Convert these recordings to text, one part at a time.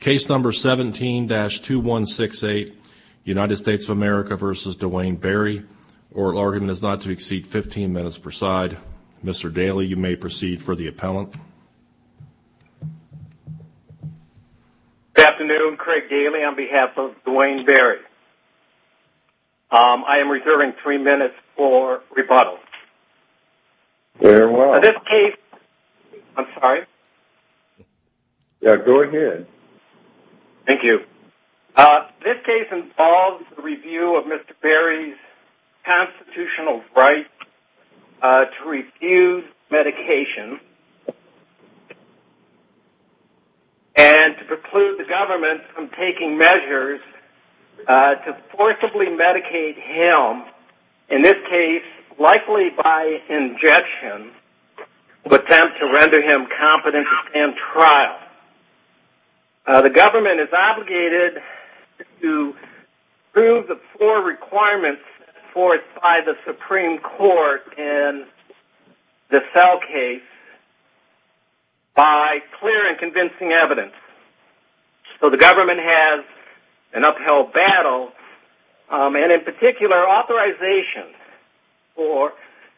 Case number 17-2168, United States of America v. Duane Berry. Oral argument is not to exceed 15 minutes per side. Mr. Daley, you may proceed for the appellant. Good afternoon. Craig Daley on behalf of Duane Berry. I am reserving three minutes for rebuttal. Very well. In this case, I'm sorry? Go ahead. Thank you. This case involves the review of Mr. Berry's constitutional right to refuse medication and to preclude the government from taking measures to forcibly medicate him, in this case, likely by injection, to attempt to render him competent to stand trial. The government is obligated to prove the four requirements by the Supreme Court in the cell case by clear and convincing evidence. So the government has an upheld battle. And in particular, authorization for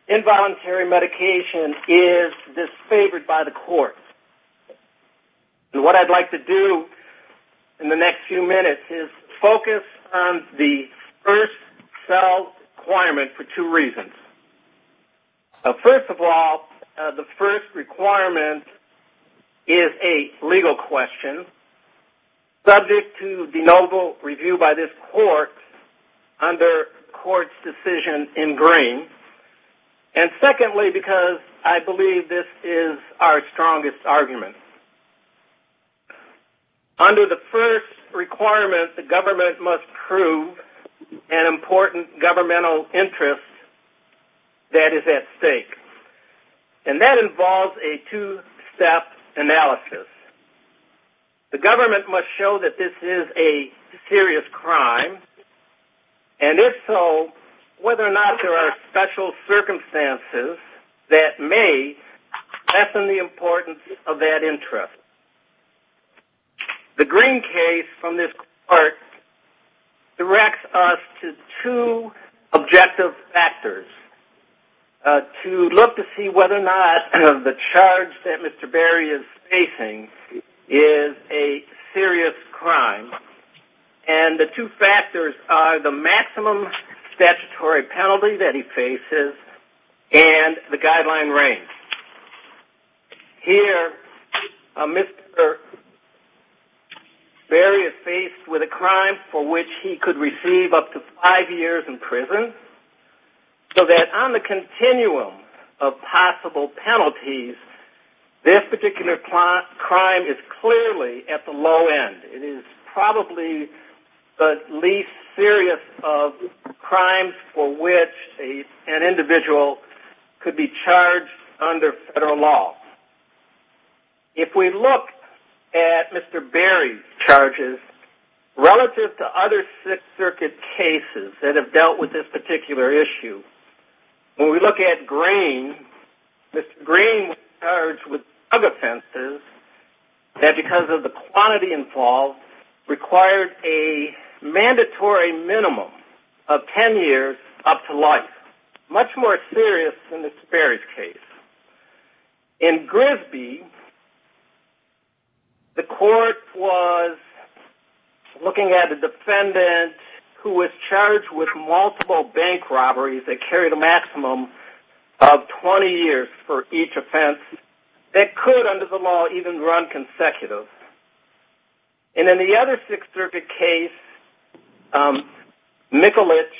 involuntary medication is disfavored by the courts. And what I'd like to do in the next few minutes is focus on the first cell requirement for two reasons. First of all, the first requirement is a legal question subject to denotable review by this court under court's decision in green. And secondly, because I believe this is our strongest argument. Under the first requirement, the government must prove an important governmental interest that is at stake. And that involves a two-step analysis. The government must show that this is a serious crime, and if so, whether or not there are special circumstances that may lessen the importance of that interest. The green case from this court directs us to two objective factors to look to see whether or not the charge that Mr. Berry is facing is a serious crime. And the two factors are the maximum statutory penalty that he faces and the guideline range. Here, Mr. Berry is faced with a crime for which he could receive up to five years in prison, so that on the continuum of possible penalties, this particular crime is clearly at the low end. It is probably the least serious of crimes for which an individual could be charged under federal law. If we look at Mr. Berry's charges relative to other Sixth Circuit cases that have dealt with this particular issue, when we look at Green, Mr. Green was charged with drug offenses that, because of the quantity involved, required a mandatory minimum of ten years up to life. Much more serious than Mr. Berry's case. In Grisby, the court was looking at a defendant who was charged with multiple bank robberies that carried a maximum of 20 years for each offense that could, under the law, even run consecutive. And in the other Sixth Circuit case, Mikulich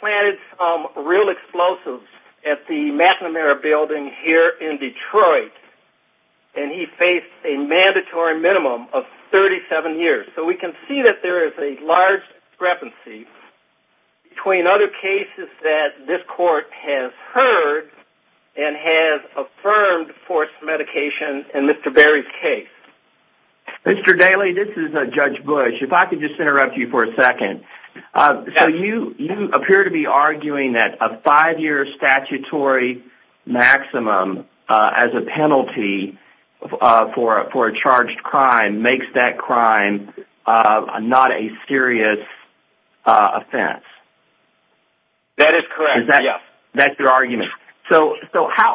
planted some real explosives at the McNamara Building here in Detroit, and he faced a mandatory minimum of 37 years. So we can see that there is a large discrepancy between other cases that this court has heard and has affirmed forced medication in Mr. Berry's case. Mr. Daley, this is Judge Bush. If I could just interrupt you for a second. So you appear to be arguing that a five-year statutory maximum as a penalty for a charged crime makes that crime not a serious offense. That is correct, yes. That's your argument. So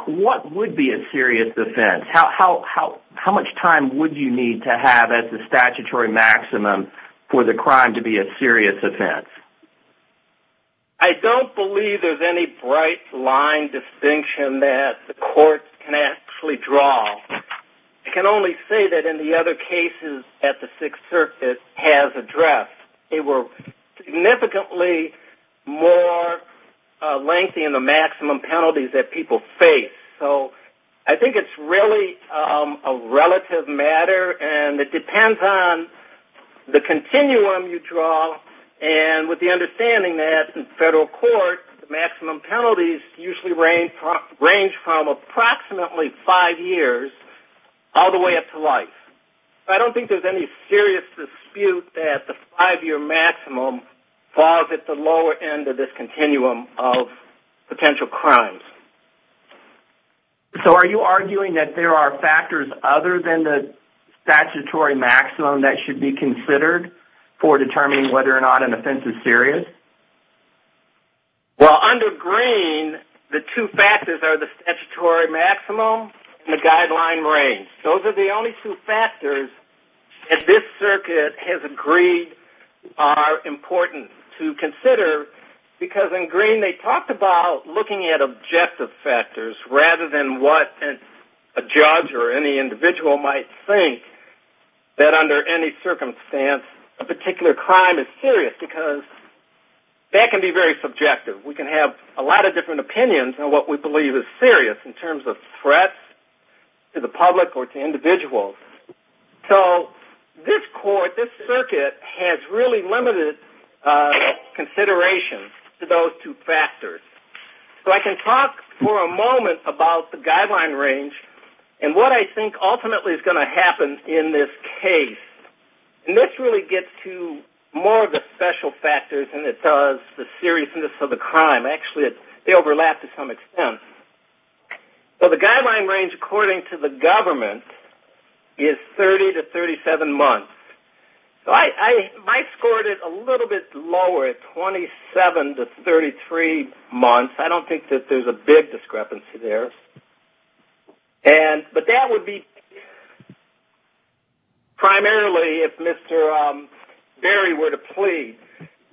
what would be a serious offense? How much time would you need to have as a statutory maximum for the crime to be a serious offense? I don't believe there's any bright line distinction that the court can actually draw. I can only say that in the other cases that the Sixth Circuit has addressed, they were significantly more lengthy in the maximum penalties that people face. So I think it's really a relative matter, and it depends on the continuum you draw. And with the understanding that in federal court, the maximum penalties usually range from approximately five years all the way up to life. I don't think there's any serious dispute that the five-year maximum falls at the lower end of this continuum of potential crimes. So are you arguing that there are factors other than the statutory maximum that should be considered for determining whether or not an offense is serious? Well, under Green, the two factors are the statutory maximum and the guideline range. Those are the only two factors that this circuit has agreed are important to consider, because in Green they talked about looking at objective factors rather than what a judge or any individual might think, that under any circumstance a particular crime is serious, because that can be very subjective. We can have a lot of different opinions on what we believe is serious in terms of threats to the public or to individuals. So this court, this circuit, has really limited consideration to those two factors. So I can talk for a moment about the guideline range and what I think ultimately is going to happen in this case. And this really gets to more of the special factors than it does the seriousness of the crime. Actually, they overlap to some extent. So the guideline range, according to the government, is 30 to 37 months. So I scored it a little bit lower at 27 to 33 months. I don't think that there's a big discrepancy there. But that would be primarily if Mr. Berry were to plead.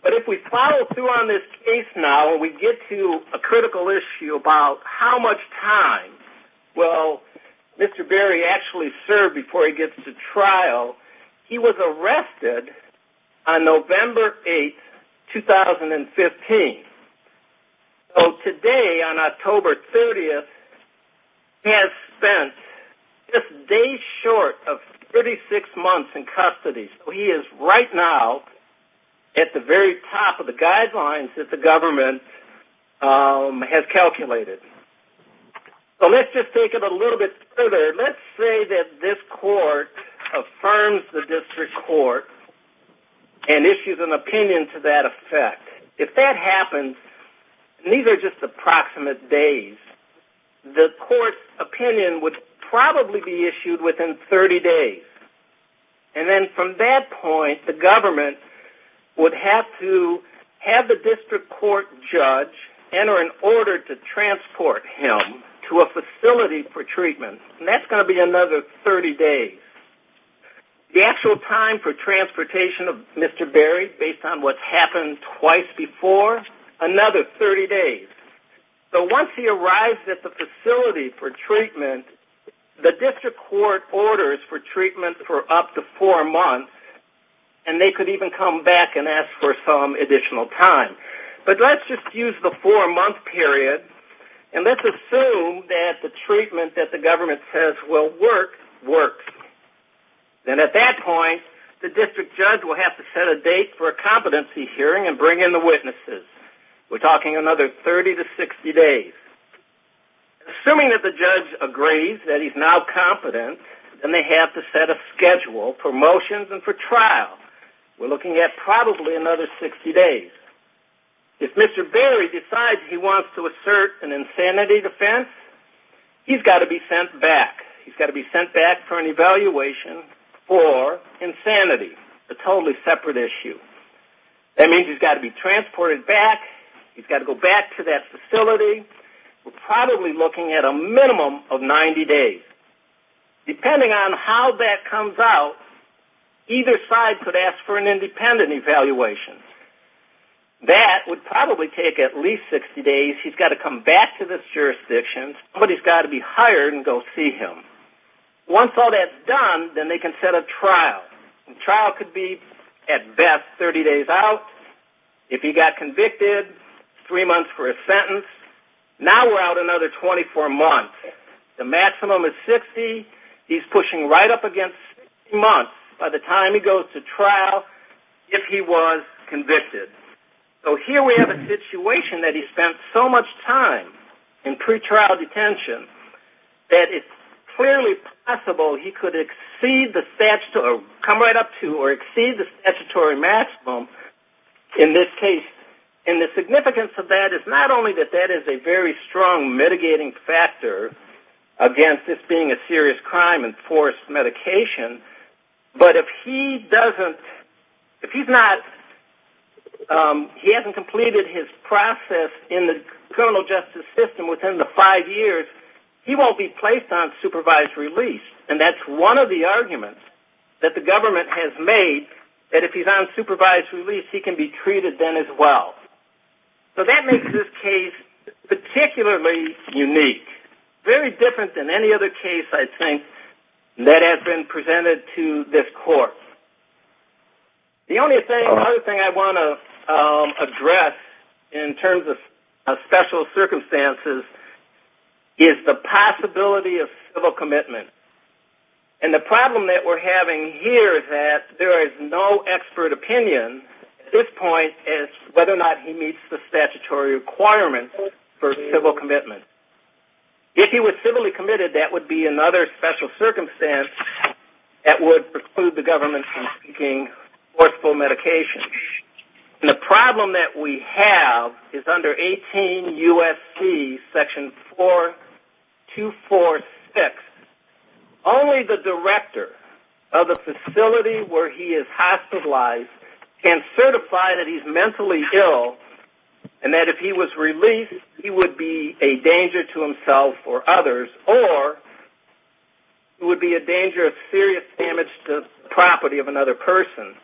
But if we plow through on this case now and we get to a critical issue about how much time will Mr. Berry actually serve before he gets to trial, he was arrested on November 8, 2015. So today, on October 30, he has spent just days short of 36 months in custody. So he is right now at the very top of the guidelines that the government has calculated. So let's just take it a little bit further. Let's say that this court affirms the district court and issues an opinion to that effect. If that happens, and these are just approximate days, the court's opinion would probably be issued within 30 days. And then from that point, the government would have to have the district court judge enter an order to transport him to a facility for treatment. And that's going to be another 30 days. The actual time for transportation of Mr. Berry, based on what's happened twice before, another 30 days. So once he arrives at the facility for treatment, the district court orders for treatment for up to four months, and they could even come back and ask for some additional time. But let's just use the four-month period, and let's assume that the treatment that the government says will work, works. And at that point, the district judge will have to set a date for a competency hearing and bring in the witnesses. We're talking another 30 to 60 days. Assuming that the judge agrees that he's now competent, then they have to set a schedule for motions and for trial. We're looking at probably another 60 days. If Mr. Berry decides he wants to assert an insanity defense, he's got to be sent back. He's got to be sent back for an evaluation for insanity, a totally separate issue. That means he's got to be transported back. He's got to go back to that facility. We're probably looking at a minimum of 90 days. Depending on how that comes out, either side could ask for an independent evaluation. That would probably take at least 60 days. He's got to come back to this jurisdiction. Somebody's got to be hired and go see him. Once all that's done, then they can set a trial. The trial could be, at best, 30 days out. If he got convicted, three months for a sentence. Now we're out another 24 months. The maximum is 60. He's pushing right up against 60 months by the time he goes to trial if he was convicted. Here we have a situation that he spent so much time in pretrial detention that it's clearly possible he could exceed the statutory maximum in this case. The significance of that is not only that that is a very strong mitigating factor against this being a serious crime and forced medication, but if he hasn't completed his process in the criminal justice system within the five years, he won't be placed on supervised release. That's one of the arguments that the government has made that if he's on supervised release, he can be treated then as well. That makes this case particularly unique. Very different than any other case, I think, that has been presented to this court. The only other thing I want to address in terms of special circumstances is the possibility of civil commitment. The problem that we're having here is that there is no expert opinion at this point as to whether or not he meets the statutory requirements for civil commitment. If he was civilly committed, that would be another special circumstance that would preclude the government from seeking forceful medication. The problem that we have is under 18 U.S.C. section 4246, only the director of the facility where he is hospitalized can certify that he's mentally ill and that if he was released, he would be a danger to himself or others, or it would be a danger of serious damage to the property of another person.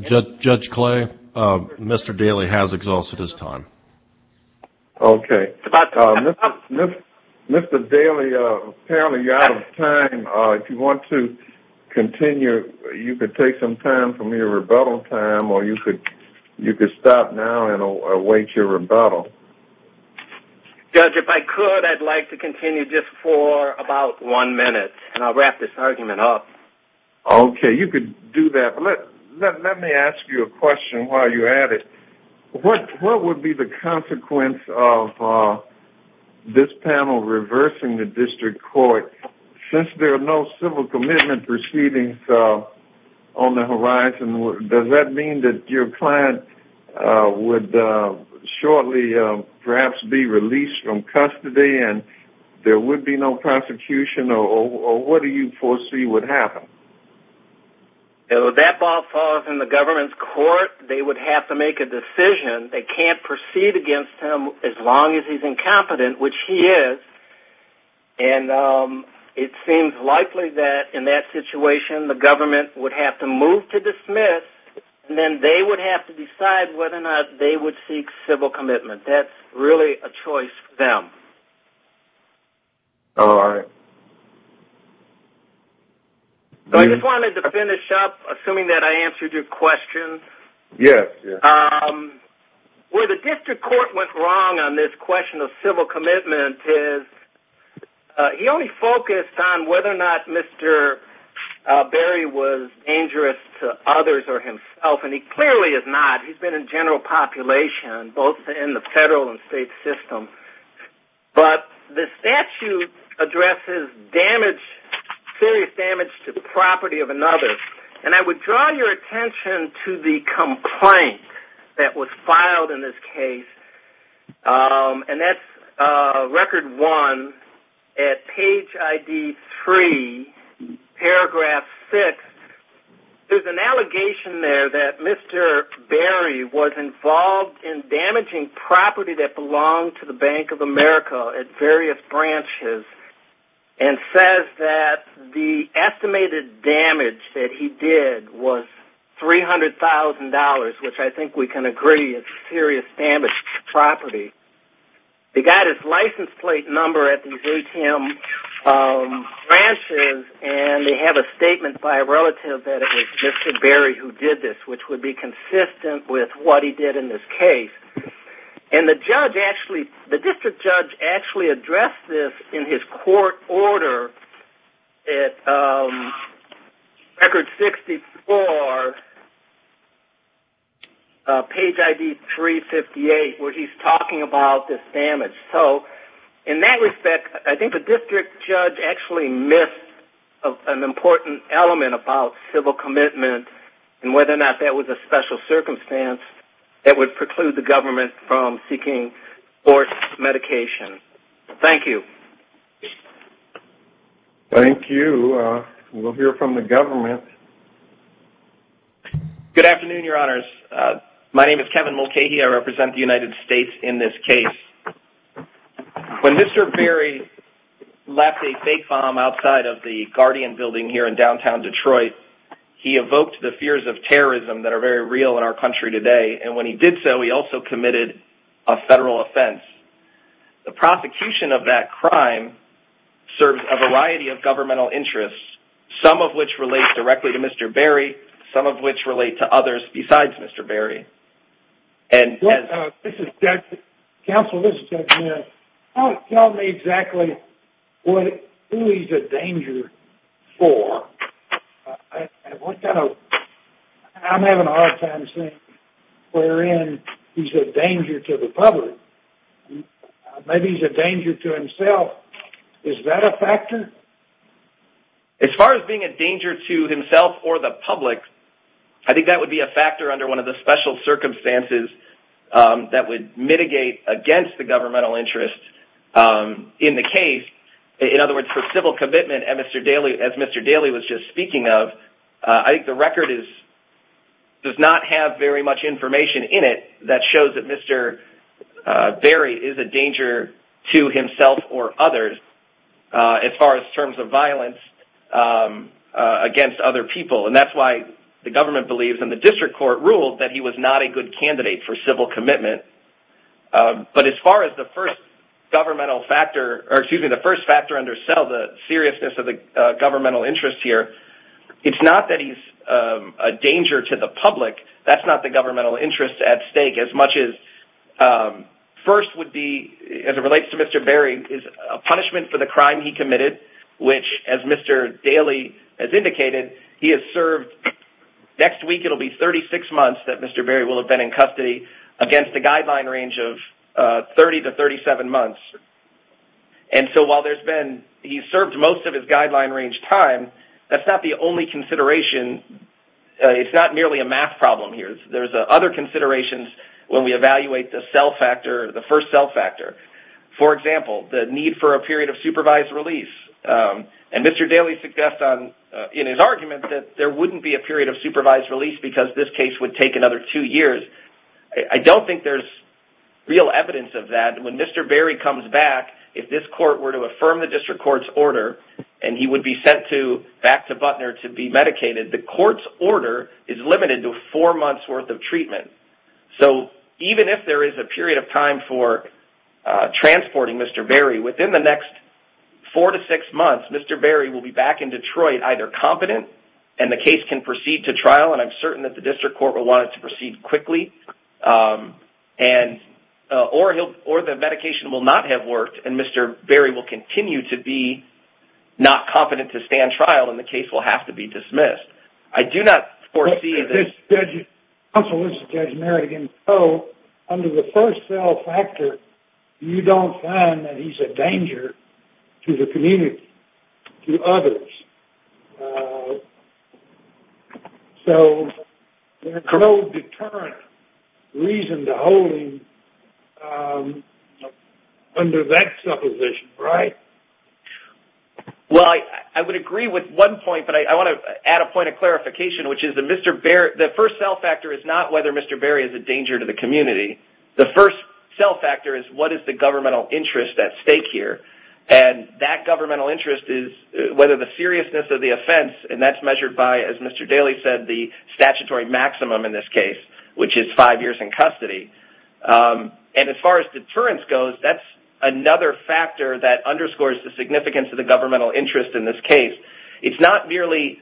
Judge Clay, Mr. Daly has exhausted his time. Okay. Mr. Daly, apparently you're out of time. If you want to continue, you could take some time from your rebuttal time, or you could stop now and await your rebuttal. Judge, if I could, I'd like to continue just for about one minute, and I'll wrap this argument up. Okay. You could do that, but let me ask you a question while you're at it. What would be the consequence of this panel reversing the district court? Since there are no civil commitment proceedings on the horizon, does that mean that your client would shortly perhaps be released from custody and there would be no prosecution, or what do you foresee would happen? That ball falls in the government's court. They would have to make a decision. They can't proceed against him as long as he's incompetent, which he is, and it seems likely that in that situation the government would have to move to dismiss, and then they would have to decide whether or not they would seek civil commitment. That's really a choice for them. All right. I just wanted to finish up, assuming that I answered your question. Yes, yes. Where the district court went wrong on this question of civil commitment is he only focused on whether or not Mr. Berry was dangerous to others or himself, and he clearly is not. He's been in general population, both in the federal and state system, but the statute addresses serious damage to the property of another, and I would draw your attention to the complaint that was filed in this case, and that's Record 1 at page ID 3, paragraph 6. There's an allegation there that Mr. Berry was involved in damaging property that belonged to the Bank of America at various branches and says that the estimated damage that he did was $300,000, which I think we can agree is serious damage to property. They got his license plate number at these ATM branches, and they have a statement by a relative that it was Mr. Berry who did this, which would be consistent with what he did in this case. And the district judge actually addressed this in his court order at Record 64, page ID 358, where he's talking about this damage. So in that respect, I think the district judge actually missed an important element about civil commitment and whether or not that was a special circumstance that would preclude the government from seeking forced medication. Thank you. Thank you. We'll hear from the government. Good afternoon, Your Honors. My name is Kevin Mulcahy. I represent the United States in this case. When Mr. Berry left a fake bomb outside of the Guardian building here in downtown Detroit, he evoked the fears of terrorism that are very real in our country today, and when he did so, he also committed a federal offense. The prosecution of that crime serves a variety of governmental interests, some of which relate directly to Mr. Berry, some of which relate to others besides Mr. Berry. Counsel, this is Judge Mayer. Tell me exactly who he's a danger for. I'm having a hard time seeing where he's a danger to the public. Maybe he's a danger to himself. Is that a factor? As far as being a danger to himself or the public, I think that would be a factor under one of the special circumstances that would mitigate against the governmental interest in the case. In other words, for civil commitment, as Mr. Daley was just speaking of, I think the record does not have very much information in it that shows that Mr. Berry is a danger to himself or others as far as terms of violence against other people, and that's why the government believes and the district court ruled that he was not a good candidate for civil commitment. But as far as the first factor under sell, the seriousness of the governmental interest here, it's not that he's a danger to the public. That's not the governmental interest at stake as much as first would be, as it relates to Mr. Berry, is a punishment for the crime he committed, which, as Mr. Daley has indicated, he has served. Next week it will be 36 months that Mr. Berry will have been in custody against a guideline range of 30 to 37 months. And so while he's served most of his guideline range time, that's not the only consideration. It's not merely a math problem here. There's other considerations when we evaluate the sell factor, the first sell factor. For example, the need for a period of supervised release. And Mr. Daley suggests in his argument that there wouldn't be a period of supervised release because this case would take another two years. I don't think there's real evidence of that. When Mr. Berry comes back, if this court were to affirm the district court's order and he would be sent back to Butner to be medicated, the court's order is limited to four months' worth of treatment. So even if there is a period of time for transporting Mr. Berry, within the next four to six months Mr. Berry will be back in Detroit either competent and the case can proceed to trial, and I'm certain that the district court will want it to proceed quickly, or the medication will not have worked and Mr. Berry will continue to be not competent to stand trial and the case will have to be dismissed. Counsel, this is Judge Merrigan. So under the first sell factor you don't find that he's a danger to the community, to others. So there's no deterrent reason to hold him under that supposition, right? Well, I would agree with one point, but I want to add a point of clarification, which is the first sell factor is not whether Mr. Berry is a danger to the community. The first sell factor is what is the governmental interest at stake here, and that governmental interest is whether the seriousness of the offense, and that's measured by, as Mr. Daley said, the statutory maximum in this case, which is five years in custody. And as far as deterrence goes, that's another factor that underscores the significance of the governmental interest in this case. It's not merely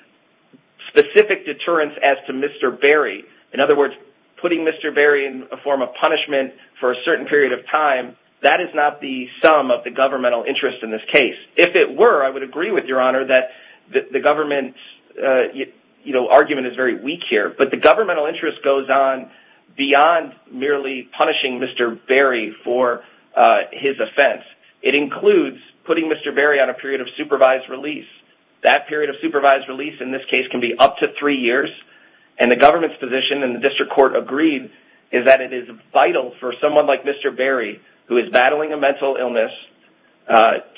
specific deterrence as to Mr. Berry. In other words, putting Mr. Berry in a form of punishment for a certain period of time, that is not the sum of the governmental interest in this case. If it were, I would agree with Your Honor that the government argument is very weak here, but the governmental interest goes on beyond merely punishing Mr. Berry for his offense. It includes putting Mr. Berry on a period of supervised release. That period of supervised release in this case can be up to three years, and the government's position and the district court agreed is that it is vital for someone like Mr. Berry, who is battling a mental illness,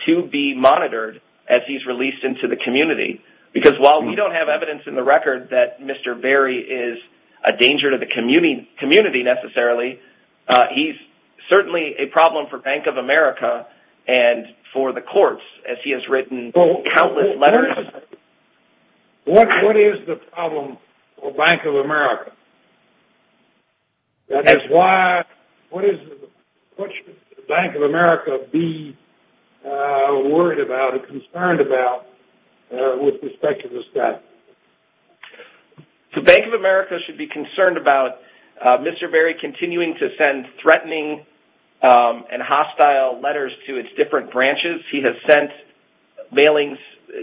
to be monitored as he's released into the community, because while we don't have evidence in the record that Mr. Berry is a danger to the community necessarily, he's certainly a problem for Bank of America and for the courts, as he has written countless letters. What is the problem for Bank of America? That is why, what should the Bank of America be worried about and concerned about with respect to this guy? The Bank of America should be concerned about Mr. Berry continuing to send threatening and hostile letters to its different branches. He has sent mailings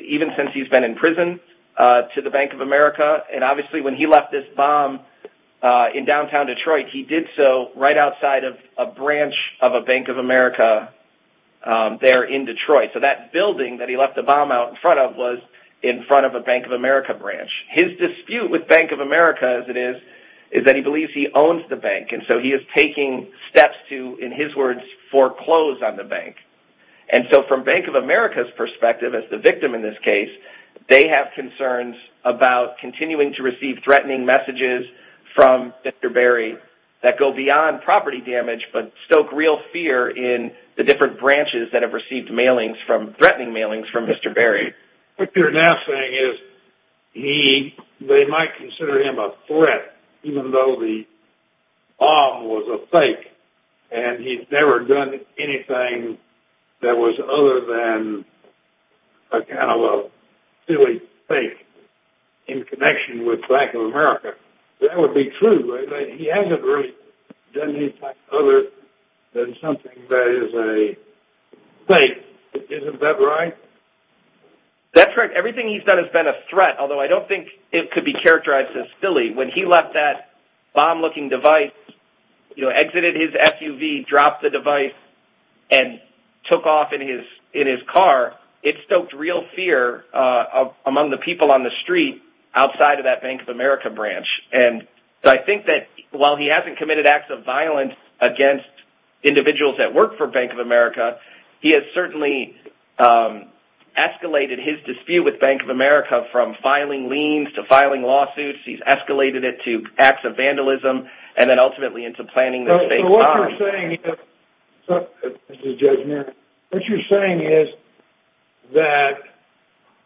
even since he's been in prison to the Bank of America, and obviously when he left this bomb in downtown Detroit, he did so right outside of a branch of a Bank of America there in Detroit. So that building that he left the bomb out in front of was in front of a Bank of America branch. His dispute with Bank of America, as it is, is that he believes he owns the bank, and so he is taking steps to, in his words, foreclose on the bank. And so from Bank of America's perspective, as the victim in this case, they have concerns about continuing to receive threatening messages from Mr. Berry that go beyond property damage but stoke real fear in the different branches that have received mailings from, threatening mailings from Mr. Berry. What you're now saying is he, they might consider him a threat, even though the bomb was a fake, and he's never done anything that was other than a kind of a silly fake in connection with Bank of America. That would be true, right? He hasn't really done anything other than something that is a fake. Isn't that right? That's right. Everything he's done has been a threat, although I don't think it could be characterized as silly. When he left that bomb-looking device, exited his SUV, dropped the device, and took off in his car, it stoked real fear among the people on the street outside of that Bank of America branch. And I think that while he hasn't committed acts of violence against individuals that work for Bank of America, he has certainly escalated his dispute with Bank of America from filing liens to filing lawsuits. He's escalated it to acts of vandalism, and then ultimately into planning this fake bomb. What you're saying is that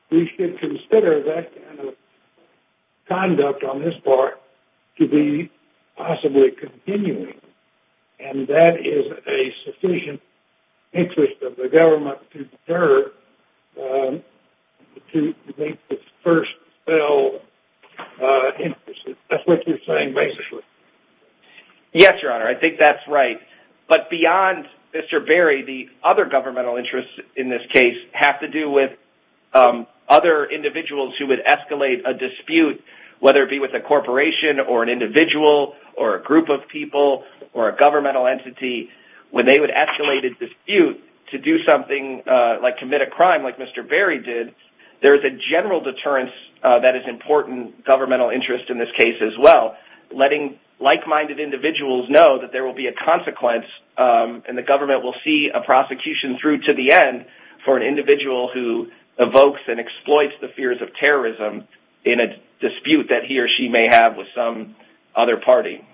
we should consider that kind of conduct on this part to be possibly continuing, and that is a sufficient interest of the government to deter, to make this first fell interest. That's what you're saying, basically. Yes, Your Honor, I think that's right. But beyond Mr. Berry, the other governmental interests in this case have to do with other individuals who would escalate a dispute, whether it be with a corporation or an individual or a group of people or a governmental entity. When they would escalate a dispute to do something like commit a crime like Mr. Berry did, there is a general deterrence that is important governmental interest in this case as well, letting like-minded individuals know that there will be a consequence, and the government will see a prosecution through to the end for an individual who evokes and exploits the fears of terrorism in a dispute that he or she may have with some other party.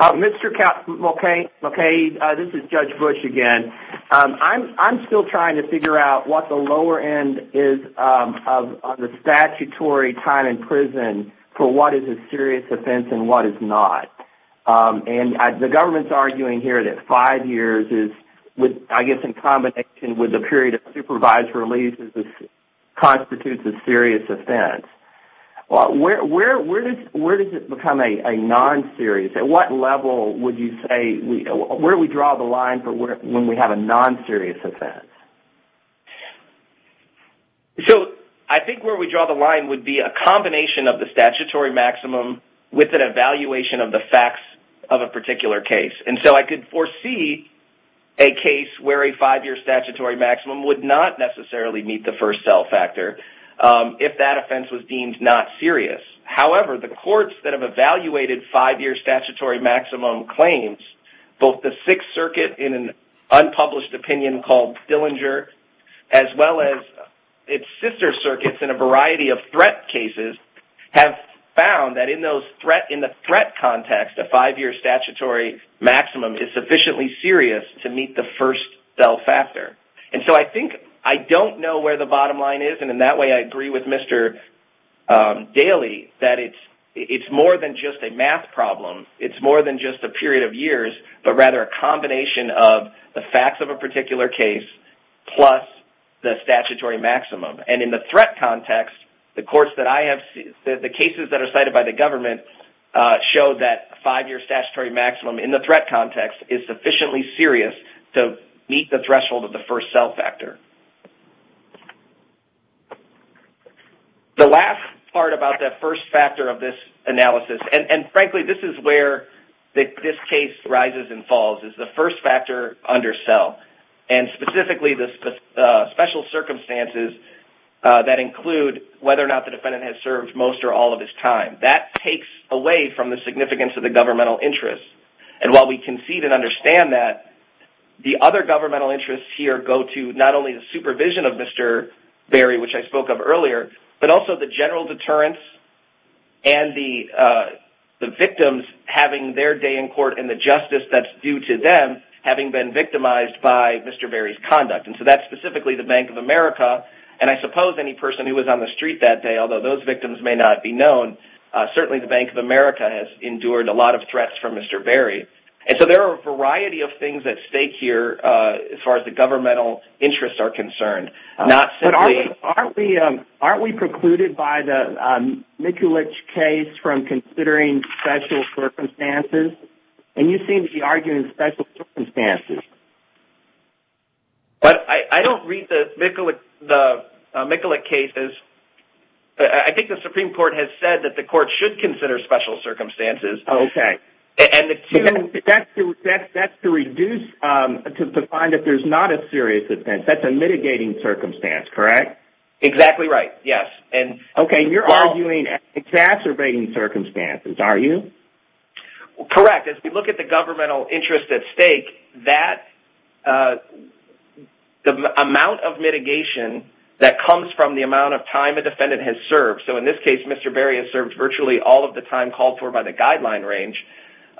Mr. Mulcahy, this is Judge Bush again. I'm still trying to figure out what the lower end is of the statutory time in prison for what is a serious offense and what is not. The government is arguing here that five years is, I guess, in combination with a period of supervised release constitutes a serious offense. Where does it become a non-serious? At what level would you say we draw the line for when we have a non-serious offense? I think where we draw the line would be a combination of the statutory maximum with an evaluation of the facts of a particular case. I could foresee a case where a five-year statutory maximum would not necessarily meet the first cell factor if that offense was deemed not serious. However, the courts that have evaluated five-year statutory maximum claims, both the Sixth Circuit in an unpublished opinion called Dillinger, as well as its sister circuits in a variety of threat cases, have found that in the threat context, a five-year statutory maximum is sufficiently serious to meet the first cell factor. I think I don't know where the bottom line is. In that way, I agree with Mr. Daley that it's more than just a math problem. It's more than just a period of years, but rather a combination of the facts of a particular case plus the statutory maximum. In the threat context, the cases that are cited by the government show that a five-year statutory maximum in the threat context is sufficiently serious to meet the threshold of the first cell factor. The last part about that first factor of this analysis, and frankly this is where this case rises and falls, is the first factor under cell, and specifically the special circumstances that include whether or not the defendant has served most or all of his time. That takes away from the significance of the governmental interest. While we concede and understand that, the other governmental interests here go to not only the supervision of Mr. Berry, which I spoke of earlier, but also the general deterrence and the victims having their day in court and the justice that's due to them having been victimized by Mr. Berry's conduct. That's specifically the Bank of America, and I suppose any person who was on the street that day, although those victims may not be known, certainly the Bank of America has endured a lot of threats from Mr. Berry. There are a variety of things at stake here as far as the governmental interests are concerned. Aren't we precluded by the Mikulich case from considering special circumstances? You seem to be arguing special circumstances. I don't read the Mikulich cases. I think the Supreme Court has said that the court should consider special circumstances. Okay. That's to find if there's not a serious offense. That's a mitigating circumstance, correct? Exactly right, yes. Okay. You're arguing exacerbating circumstances, are you? Correct. As we look at the governmental interest at stake, that amount of mitigation that comes from the amount of time a defendant has served, so in this case Mr. Berry has served virtually all of the time called for by the guideline range,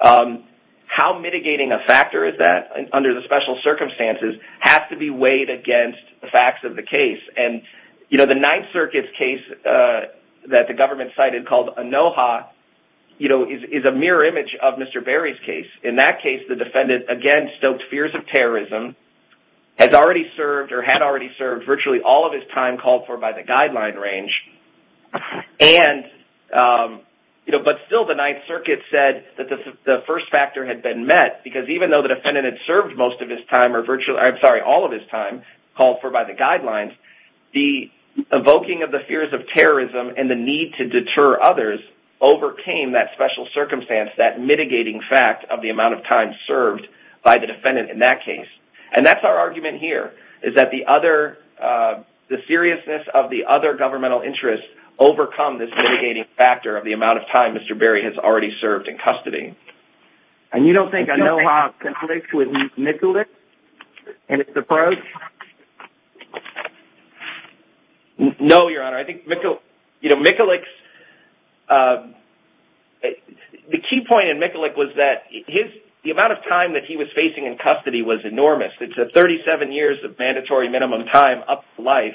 how mitigating a factor is that under the special circumstances has to be weighed against the facts of the case. The Ninth Circuit's case that the government cited called ANOHA is a mirror image of Mr. Berry's case. In that case the defendant, again, stoked fears of terrorism, had already served virtually all of his time called for by the guideline range, but still the Ninth Circuit said that the first factor had been met because even though the defendant had served all of his time called for by the guidelines, the evoking of the fears of terrorism and the need to deter others overcame that special circumstance, that mitigating fact of the amount of time served by the defendant in that case. And that's our argument here is that the seriousness of the other governmental interests overcome this mitigating factor of the amount of time Mr. Berry has already served in custody. And you don't think ANOHA conflicts with Mikulik in its approach? No, Your Honor. I think Mikulik's – the key point in Mikulik was that his – the amount of time that he was facing in custody was enormous. It's 37 years of mandatory minimum time up to life,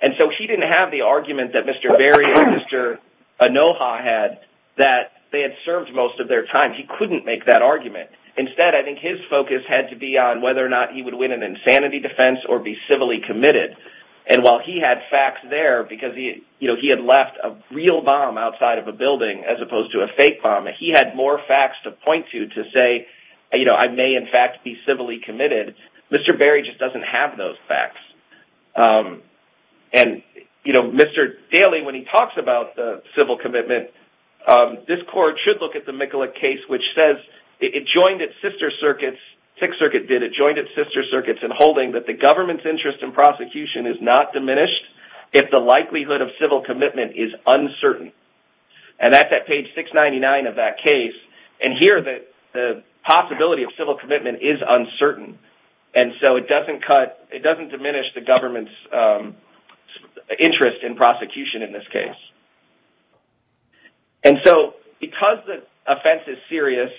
and so he didn't have the argument that Mr. Berry or Mr. ANOHA had that they had served most of their time. He couldn't make that argument. Instead, I think his focus had to be on whether or not he would win an insanity defense or be civilly committed. And while he had facts there because he had left a real bomb outside of a building as opposed to a fake bomb, he had more facts to point to to say, you know, I may in fact be civilly committed. Mr. Berry just doesn't have those facts. And, you know, Mr. Daley, when he talks about the civil commitment, this court should look at the Mikulik case, which says it joined its sister circuits, Sixth Circuit did, it joined its sister circuits in holding that the government's interest in prosecution is not diminished if the likelihood of civil commitment is uncertain. And that's at page 699 of that case. And here the possibility of civil commitment is uncertain, and so it doesn't cut, it doesn't diminish the government's interest in prosecution in this case. And so because the offense is serious,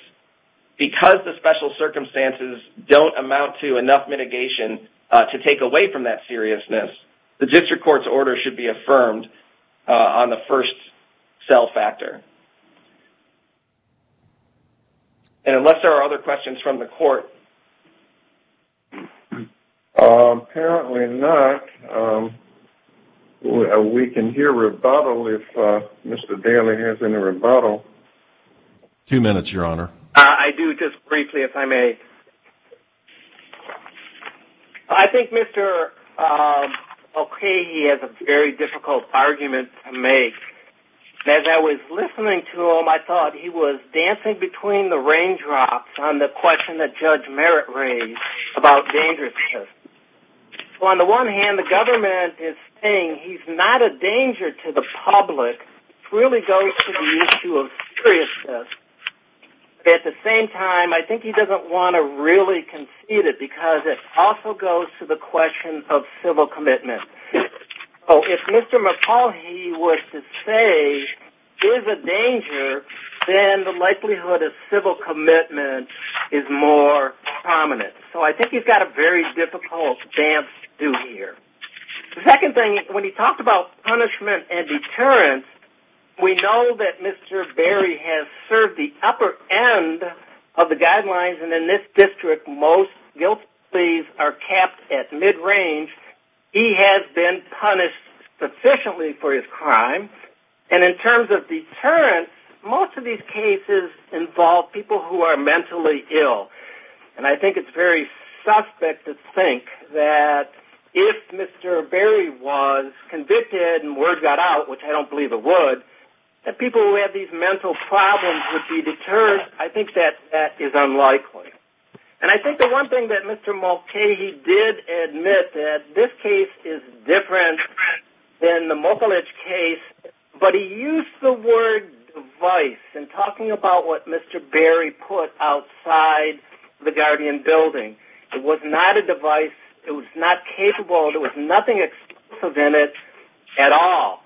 because the special circumstances don't amount to enough mitigation to take away from that seriousness, the district court's order should be affirmed on the first cell factor. And unless there are other questions from the court. Apparently not. We can hear rebuttal if Mr. Daley has any rebuttal. Two minutes, Your Honor. I do, just briefly, if I may. I think Mr. O'Keefe has a very difficult argument to make. As I was listening to him, I thought he was dancing between the raindrops on the question that Judge Merritt raised about dangerousness. On the one hand, the government is saying he's not a danger to the public. It really goes to the issue of seriousness. At the same time, I think he doesn't want to really concede it because it also goes to the question of civil commitment. If Mr. McCauley was to say he was a danger, then the likelihood of civil commitment is more prominent. So I think he's got a very difficult dance to do here. The second thing, when he talked about punishment and deterrence, we know that Mr. Berry has served the upper end of the guidelines. And in this district, most guilties are capped at mid-range. He has been punished sufficiently for his crime. And in terms of deterrence, most of these cases involve people who are mentally ill. And I think it's very suspect to think that if Mr. Berry was convicted and word got out, which I don't believe it would, that people who have these mental problems would be deterred. I think that that is unlikely. And I think the one thing that Mr. Mulcahy did admit, that this case is different than the Mokulich case, but he used the word device in talking about what Mr. Berry put outside the Guardian building. It was not a device. It was not capable. There was nothing exclusive in it at all.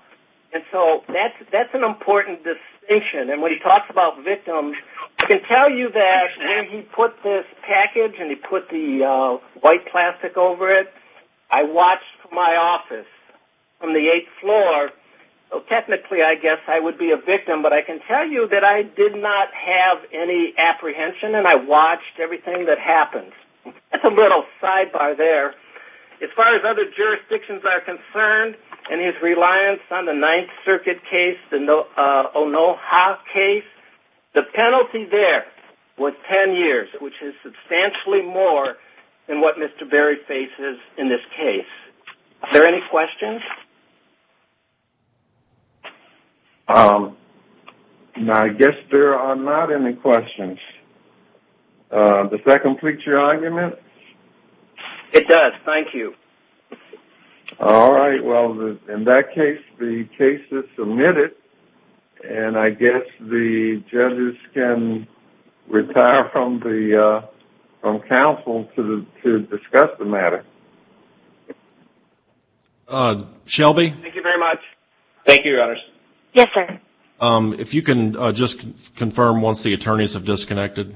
And so that's an important distinction. And when he talks about victims, I can tell you that when he put this package and he put the white plastic over it, I watched my office from the eighth floor. Technically, I guess I would be a victim, but I can tell you that I did not have any apprehension and I watched everything that happened. That's a little sidebar there. As far as other jurisdictions are concerned and his reliance on the Ninth Circuit case, the Onoha case, the penalty there was ten years, which is substantially more than what Mr. Berry faces in this case. Are there any questions? I guess there are not any questions. Does that complete your argument? It does. Thank you. All right. Well, in that case, the case is submitted, and I guess the judges can retire from counsel to discuss the matter. Shelby? Thank you very much. Thank you, Your Honors. Yes, sir. If you can just confirm once the attorneys have disconnected.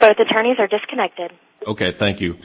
Both attorneys are disconnected. Okay. Thank you.